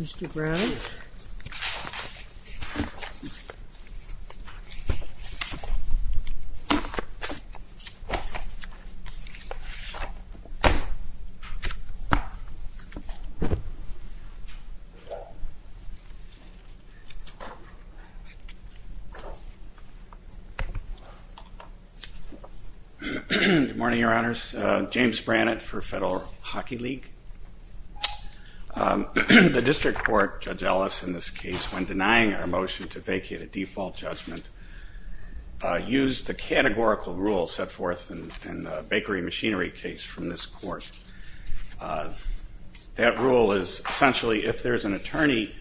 Mr. Brown Good morning, your honors. James Brannett for Federal Hockey League The district court, Judge Ellis, in this case, when denying our motion to vacate a default judgment, used the categorical rule set forth in the bakery machinery case from this court. That rule is essentially, if there's an attorney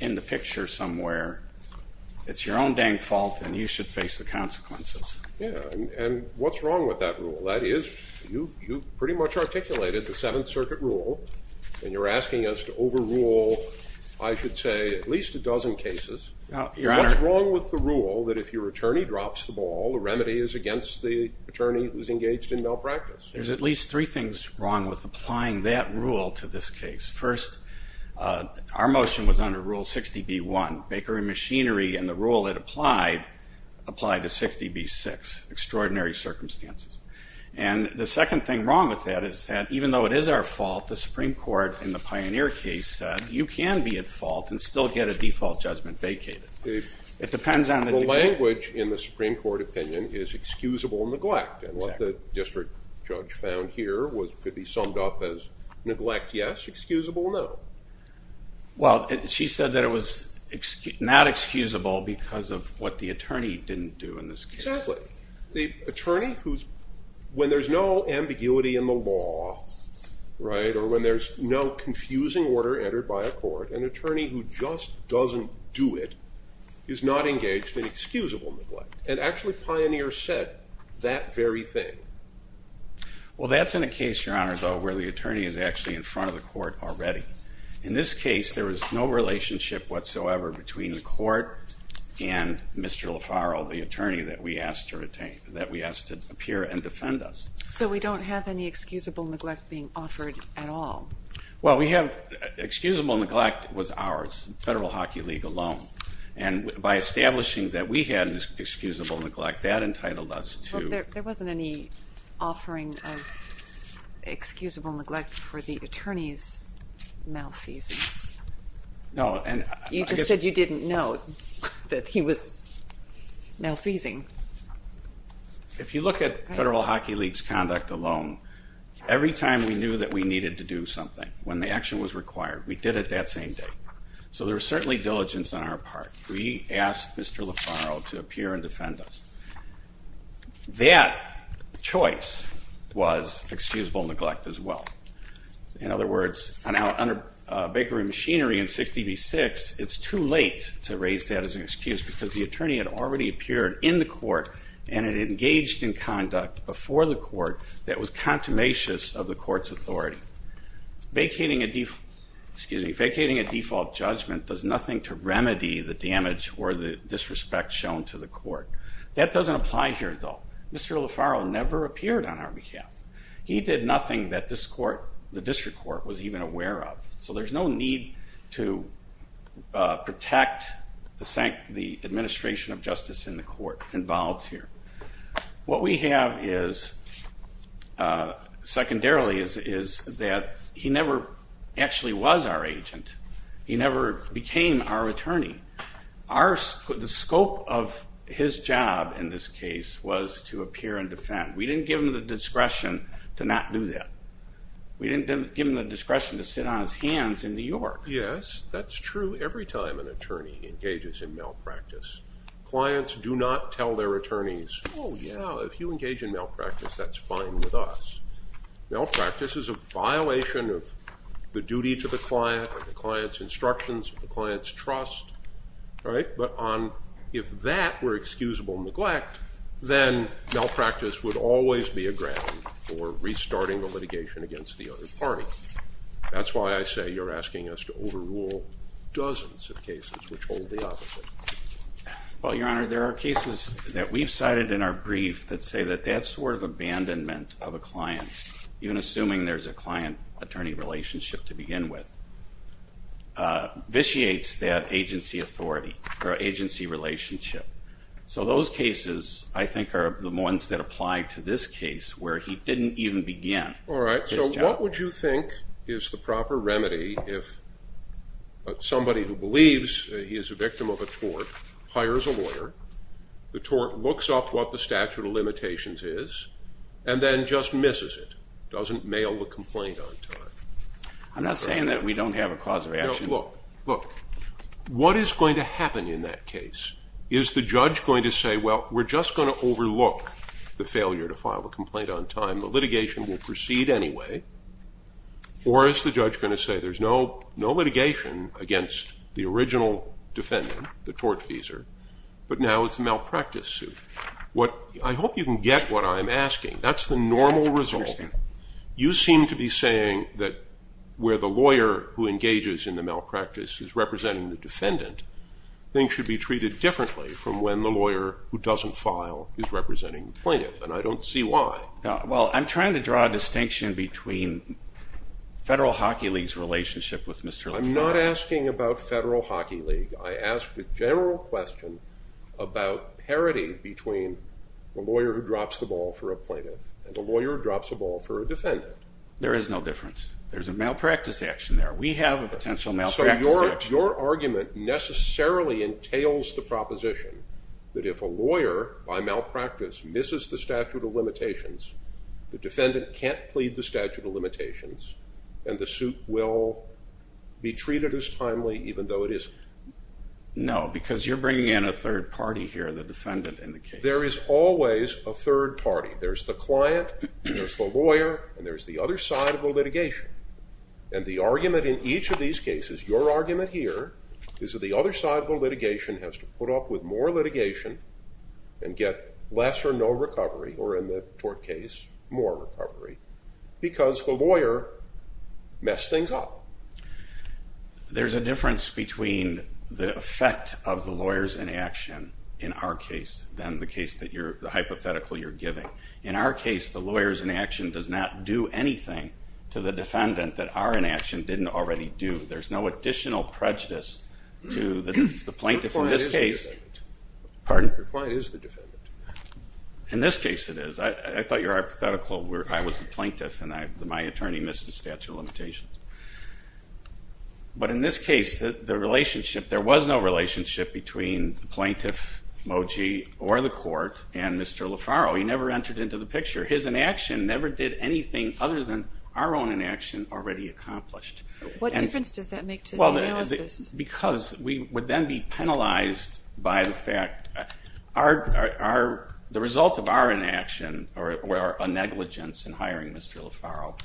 in the picture somewhere, it's your own dang fault and you should face the consequences. Yeah, and what's wrong with that rule? That is, you pretty much articulated the Seventh Circuit rule and you're asking us to overrule, I should say, at least a dozen cases. What's wrong with the rule that if your attorney drops the ball, the remedy is against the attorney who's engaged in malpractice? There's at least three things wrong with applying that rule to this case. First, our motion was under Rule 60b-1, bakery machinery and the rule it applied applied to 60b-6, extraordinary circumstances. And the second thing wrong with that is that even though it is our fault, the Supreme Court in the Pioneer case said you can be at fault and still get a default judgment vacated. It depends on the language in the Supreme Court opinion is excusable neglect and what the district judge found here could be summed up as neglect, yes, excusable, no. Well, she said that it was not excusable because of what the attorney didn't do in this case. Exactly. The attorney who's, when there's no ambiguity in the law, right, or when there's no confusing order entered by a court, an attorney who just doesn't do it is not engaged in excusable neglect. And actually Pioneer said that very thing. Well, that's in a case, Your Honor, though, where the attorney is actually in front of the court already. In this case, there was no relationship whatsoever between the court and Mr. LaFaro, the attorney that we asked to retain, that we asked to appear and defend us. So we don't have any excusable neglect being offered at all. Well, we have, excusable neglect was ours, Federal Hockey League alone. And by establishing that we had an excusable neglect, that entitled us to... There wasn't any offering of excusable neglect for the attorney's malfeasance. No, and... You just said you didn't know that he was malfeasing. If you look at Federal Hockey League's conduct alone, every time we knew that we needed to do something, when the action was required, we did it that same day. So there was certainly diligence on our part. We asked Mr. LaFaro to appear and defend us. That choice was excusable neglect as well. In other words, under Bakery Machinery and 6db6, it's too late to raise that as an excuse because the attorney had already appeared in the court and had engaged in conduct before the court that was contumacious of the court's authority. Vacating a default, excuse me, vacating a default judgment does nothing to remedy the damage or the disrespect shown to the court. That doesn't apply here though. Mr. LaFaro never appeared on our behalf. He did nothing that this court, the district court, was even aware of. So there's no need to protect the administration of justice in the court involved here. What we have is, secondarily, is that he never actually was our agent. He never became our attorney. The scope of his job in this case was to appear and defend. We didn't give him the discretion to not do that. We didn't give him the discretion to sit on his hands in New York. Yes, that's true every time an attorney engages in malpractice. Clients do not tell their attorneys, oh yeah, if you engage in malpractice, that's fine with us. Malpractice is a violation of the duty to the client, the client's instructions, the client's trust. Right, but if that were excusable neglect, then malpractice would always be a ground for restarting the litigation against the other party. That's why I say you're asking us to overrule dozens of cases which hold the opposite. Well, Your Honor, there are cases that we've cited in our brief that say that that sort of abandonment of a client, even assuming there's a client-attorney relationship to begin with, vitiates that agency authority or agency relationship. So those cases, I think, are the ones that apply to this case where he didn't even begin. All right, so what would you think is the proper remedy if somebody who believes he is a victim of a tort hires a lawyer, the tort looks up what the statute of limitations is, and then just misses it, doesn't mail the complaint on time? I'm not saying that we don't have a cause of action. No, look, look. What is going to happen in that case? Is the judge going to say, well, we're just going to overlook the failure to file a complaint on time, the litigation will proceed anyway, or is the judge going to say there's no litigation against the original defendant, the tortfeasor, but now it's a malpractice suit? I hope you can get what I'm asking. That's the normal result. You seem to be saying that where the lawyer who engages in the malpractice is representing the defendant, things should be treated differently from when the lawyer who doesn't file is representing the plaintiff, and I don't see why. Well, I'm trying to draw a distinction between Federal Hockey League's relationship with Mr. LeForest. I'm not asking about Federal Hockey League. I asked a general question about parity between the lawyer who drops the ball for a plaintiff and the lawyer drops the ball for a defendant. There is no difference. There's a malpractice action there. We have a potential malpractice action. So your argument necessarily entails the proposition that if a lawyer, by malpractice, misses the statute of limitations, the defendant can't plead the statute of limitations and the suit will be treated as timely even though it is... No, because you're bringing in a third party here, the defendant, in the case. There is always a third party. There's the client, there's the lawyer, and there's the other side of the litigation. And the argument in each of these cases, your argument here, is that the other side of the litigation has to put up with more litigation and get less or no recovery, or in the court case, more recovery, because the lawyer messed things up. There's a difference between the effect of the lawyer's inaction in our case than the hypothetical you're giving. In our case, the lawyer's inaction does not do anything to the defendant that our inaction didn't already do. There's no additional prejudice to the plaintiff in this case. Pardon? Your client is the defendant. In this case, it is. I thought your hypothetical where I was the plaintiff and my attorney missed the statute of limitations. But in this case, the relationship, there was no relationship between the plaintiff, Moji, or the court, and Mr. LaFarrow. He never entered into the picture. His inaction never did anything other than our own inaction already accomplished. What difference does that make to the analysis? Because we would then be penalized by the fact, the result of our inaction, or a negligence in hiring Mr. LaFarrow,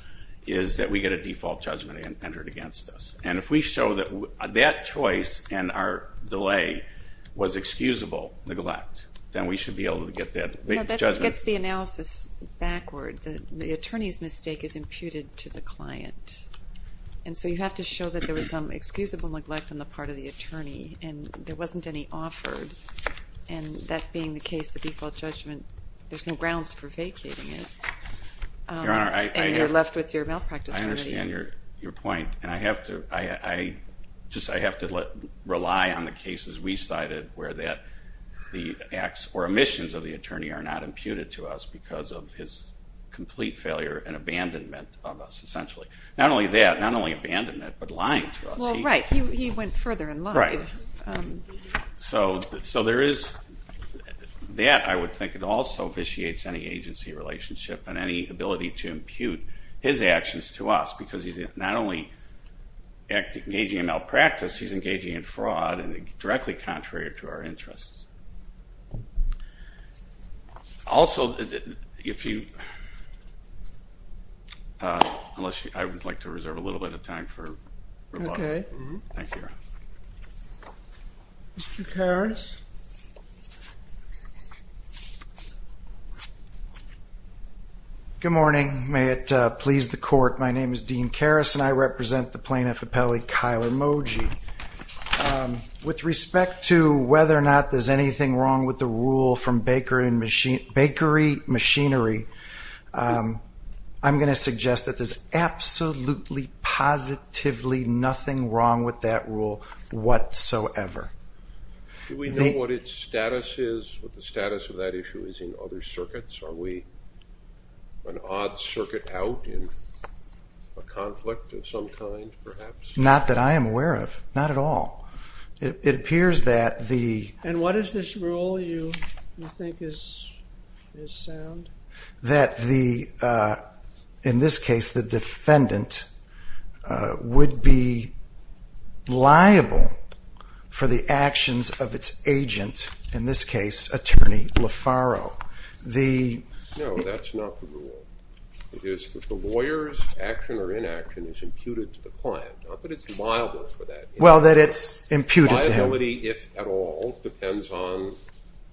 is that we get a default judgment entered against us. And if we show that that choice and our delay was excusable neglect, then we should be able to get that judgment. That gets the analysis backward. The attorney's mistake is imputed to the client. And so you have to show that there was some excusable neglect on the part of the attorney, and there wasn't any offered. And that being the case, the default judgment, there's no grounds for vacating it. Your Honor, I understand your point. And I have to, I just, I have to let, rely on the cases we cited where that the acts or omissions of the attorney are not imputed to us because of his complete failure and abandonment of us, essentially. Not only that, not only abandonment, but lying to us. Well, right, he went further and lied. So, so there is that, I would think, it also vitiates any agency relationship and any ability to impute his actions to us because he's not only engaging in malpractice, he's engaging in fraud and directly contrary to our interests. Also, if you, unless you, I would like to reserve a little bit of time for rebuttal. Okay. Thank you, Your Honor. Mr. Karas? Good morning. May it please the Court. My name is Dean Karas and I represent the Plaintiff Appellee, Kyle Emoji. With respect to whether or not there's anything wrong with the rule from bakery and machine, bakery machinery, I'm going to suggest that there's absolutely, positively, nothing wrong with that rule whatsoever. Do we know what its status is, what the status of that issue is in other circuits? Are we an odd circuit out in a conflict of some kind, perhaps? Not that I am aware of, not at all. It appears that the... And what is this rule you think is sound? That the, in this case, the defendant would be liable for the actions of its agent, in this case, attorney Lefaro. The... No, that's not the rule. It is that the lawyer's action or inaction is imputed to the client, but it's liable for that. Well, that it's imputed to him. Liability, if at all, depends on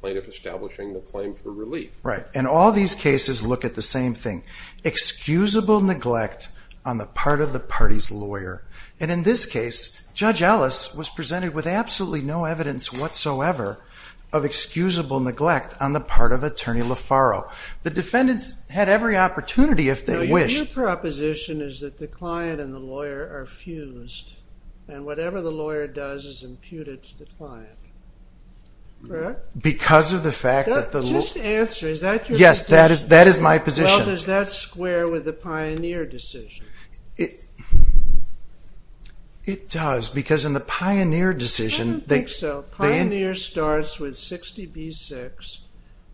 plaintiff establishing the claim for relief. Right, and all these cases look at the same thing. Excusable neglect on the part of the party's lawyer, and in this case, Judge Ellis was presented with absolutely no evidence whatsoever of excusable neglect on the part of attorney Lefaro. The defendants had every opportunity if they wished. Your proposition is that the client and the lawyer are fused, and whatever the lawyer does is imputed to the client. Because of the fact that the... Just answer, is that your position? That is my position. Well, does that square with the Pioneer decision? It does, because in the Pioneer decision... I don't think so. Pioneer starts with 60b-6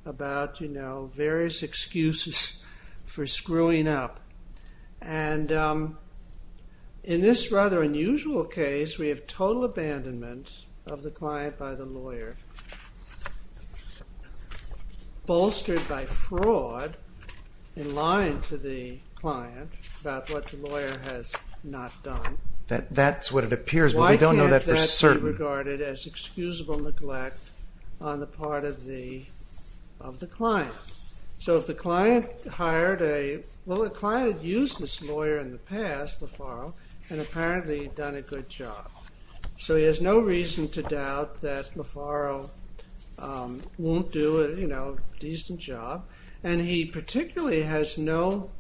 about, you know, various excuses for screwing up, and in this rather unusual case, we have total abandonment of the client by the lawyer, bolstered by fraud, in lying to the client about what the lawyer has not done. That's what it appears, but we don't know that for certain. Why can't that be regarded as excusable neglect on the part of the client? So if the client hired a... Well, the client had used this lawyer in the past, Lefaro, and apparently done a good job. So he has no reason to doubt that Lefaro won't do a, you know, decent job, and he particularly has no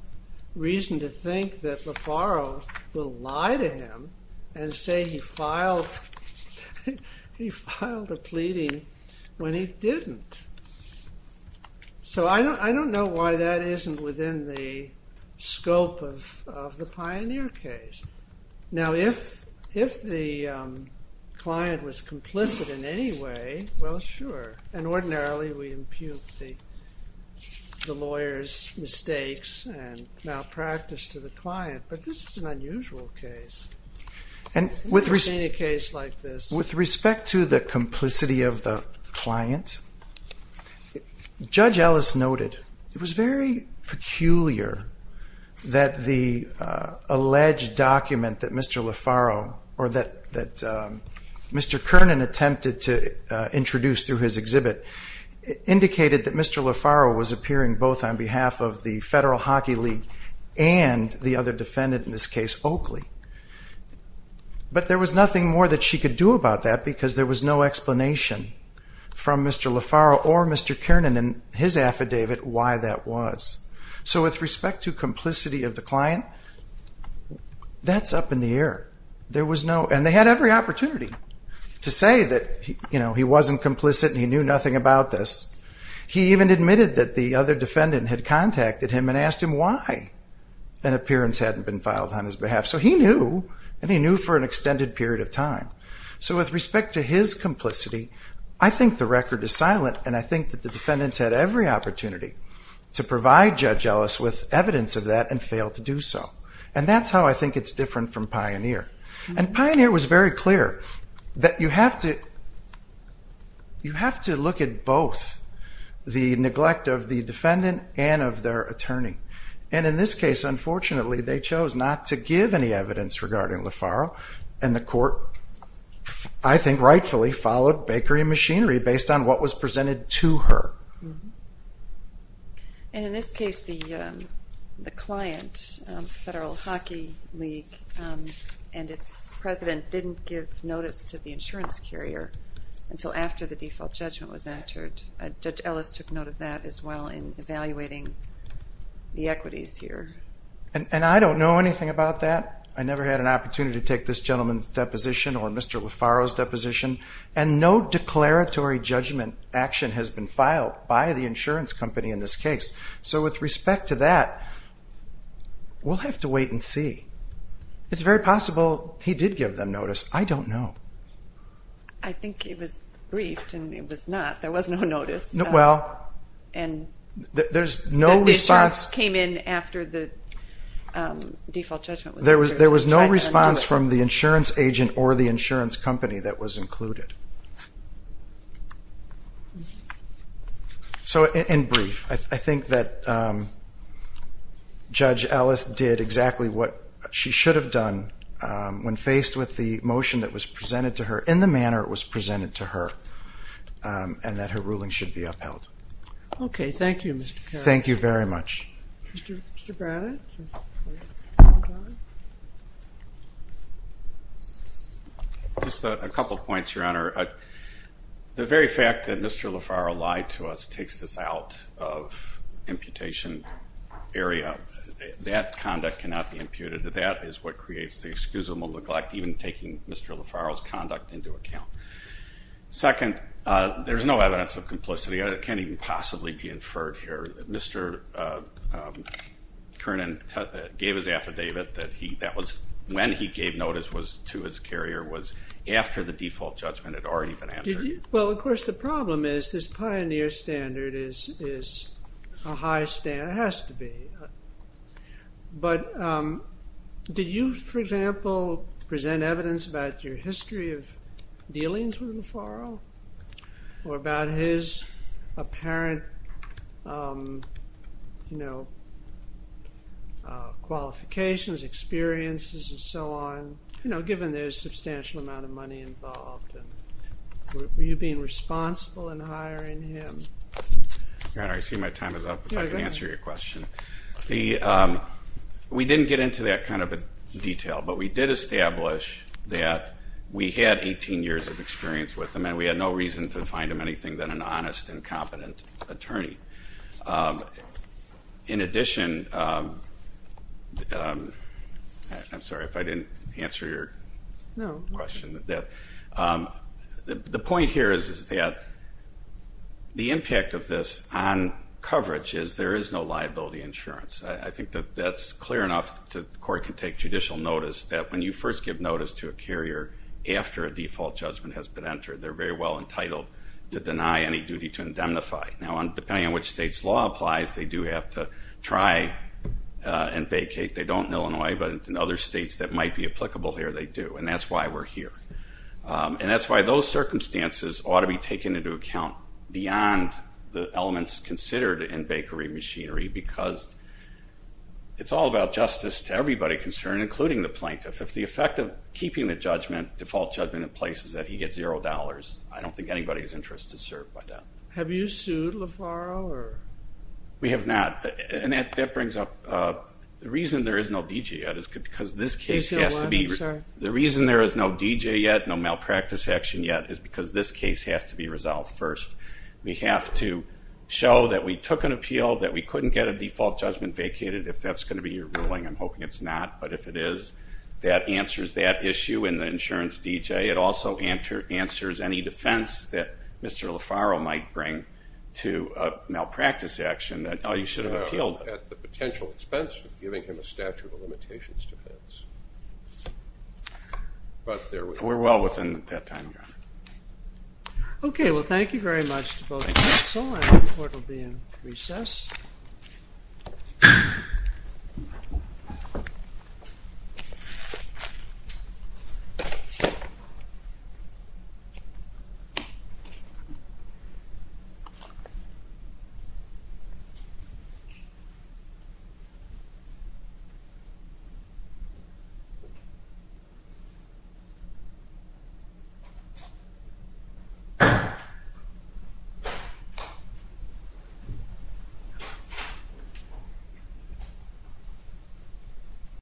reason to think that Lefaro will lie to him and say he filed... He filed a pleading when he didn't. So I don't know why that isn't within the scope of the Pioneer case. Now, if the client was complicit in any way, well, sure, and ordinarily we impute the the lawyer's mistakes and malpractice to the client, but this is an unusual case, and in a case like this... With respect to the complicity of the client, Judge Ellis noted it was very peculiar that the alleged document that Mr. Lefaro or that Mr. Kernan attempted to introduce through his exhibit indicated that Mr. Lefaro was appearing both on behalf of the Federal Hockey League and the other defendant in this case, Oakley. But there was nothing more that she could do about that because there was no explanation from Mr. Lefaro or Mr. Kernan in his affidavit why that was. So with respect to complicity of the client, that's up in the air. There was no... And they had every opportunity to say that, you know, he wasn't complicit and he knew nothing about this. He even admitted that the other defendant had contacted him and asked him why an appearance hadn't been filed on his behalf. So he knew, and he knew for an extended period of time. So with respect to his complicity, I think the record is silent, and I think that the defendants had every opportunity to provide Judge Ellis with evidence of that and failed to do so. And that's how I think it's different from Pioneer. And Pioneer was very clear that you have to... You have to look at both the neglect of the defendant and of their attorney. And in this case, unfortunately, they chose not to give any evidence regarding Lefaro, and the court, I think rightfully, followed bakery machinery based on what was presented to her. And in this case, the client, Federal Hockey League, and its president didn't give notice to the insurance carrier until after the default judgment was entered. Judge Ellis took note of that as well in evaluating the equities here. And I don't know anything about that. I never had an opportunity to take this gentleman's deposition or Mr. Lefaro's deposition, and no I don't know. I think it was briefed, and it was not. There was no notice. We'll have to wait and see. It's very possible he did give them notice. I don't know. I think it was briefed, and it was not. There was no notice. There's no response. It just came in after the default judgment was entered. There was no response from the insurance agent or the insurance company that was included. So, in brief, I think that Judge Ellis did exactly what she should have done when faced with the motion that was presented to her in the manner it was presented to her, and that her ruling should be upheld. Okay. Thank you, Mr. Carroll. Thank you very much. Mr. Braddock? Just a couple points, Your Honor. The very fact that Mr. Lefaro lied to us takes this out of imputation area. That conduct cannot be imputed. That is what creates the excuse of maleglect, even taking Mr. Lefaro's conduct into account. Second, there's no evidence of complicity. It can't even possibly be inferred here. Mr. Kernan gave his affidavit that he, that was when he gave notice was to his carrier, was after the default judgment had already been answered. Well, of course, the problem is this pioneer standard is a high standard. It has to be. But did you, for example, present evidence about your history of dealings with Lefaro? Or about his apparent, you know, qualifications, experiences, and so on? You know, given there's a substantial amount of money involved and were you being responsible in hiring him? Your Honor, I see my time is up, if I can answer your question. The, we didn't get into that kind of a detail, but we did establish that we had 18 years of experience with him, and we had no reason to find him anything than an honest and competent attorney. In addition, I'm sorry if I didn't answer your question. The point here is that the impact of this on coverage is there is no liability insurance. I think that that's clear enough that the court can take judicial notice that when you first give notice to a carrier, after a default judgment has been entered, they're very well entitled to deny any duty to indemnify. Now depending on which state's law applies, they do have to try and vacate. They don't in Illinois, but in other states that might be applicable here, they do, and that's why we're here. And that's why those circumstances ought to be taken into account beyond the elements considered in bakery machinery because it's all about justice to everybody concerned, including the plaintiff. If the effect of keeping the judgment, default judgment, in place is that he gets zero dollars, I don't think anybody's interest is served by that. Have you sued LaFaro? We have not, and that brings up the reason there is no D.J. yet is because this case has to be, the reason there is no D.J. yet, no malpractice action yet, is because this case has to be resolved first. We have to show that we took an appeal, that we couldn't get a default judgment vacated, if that's going to be your ruling. I'm hoping it's not, but if it is, that answers that issue in the insurance D.J. It also answers any defense that Mr. LaFaro might bring to a malpractice action that, oh, you should have appealed. At the potential expense of giving him a statute of limitations defense. But there we are. We're well within that time. Okay. Well, thank you very much to both counsel and the court will be in recess.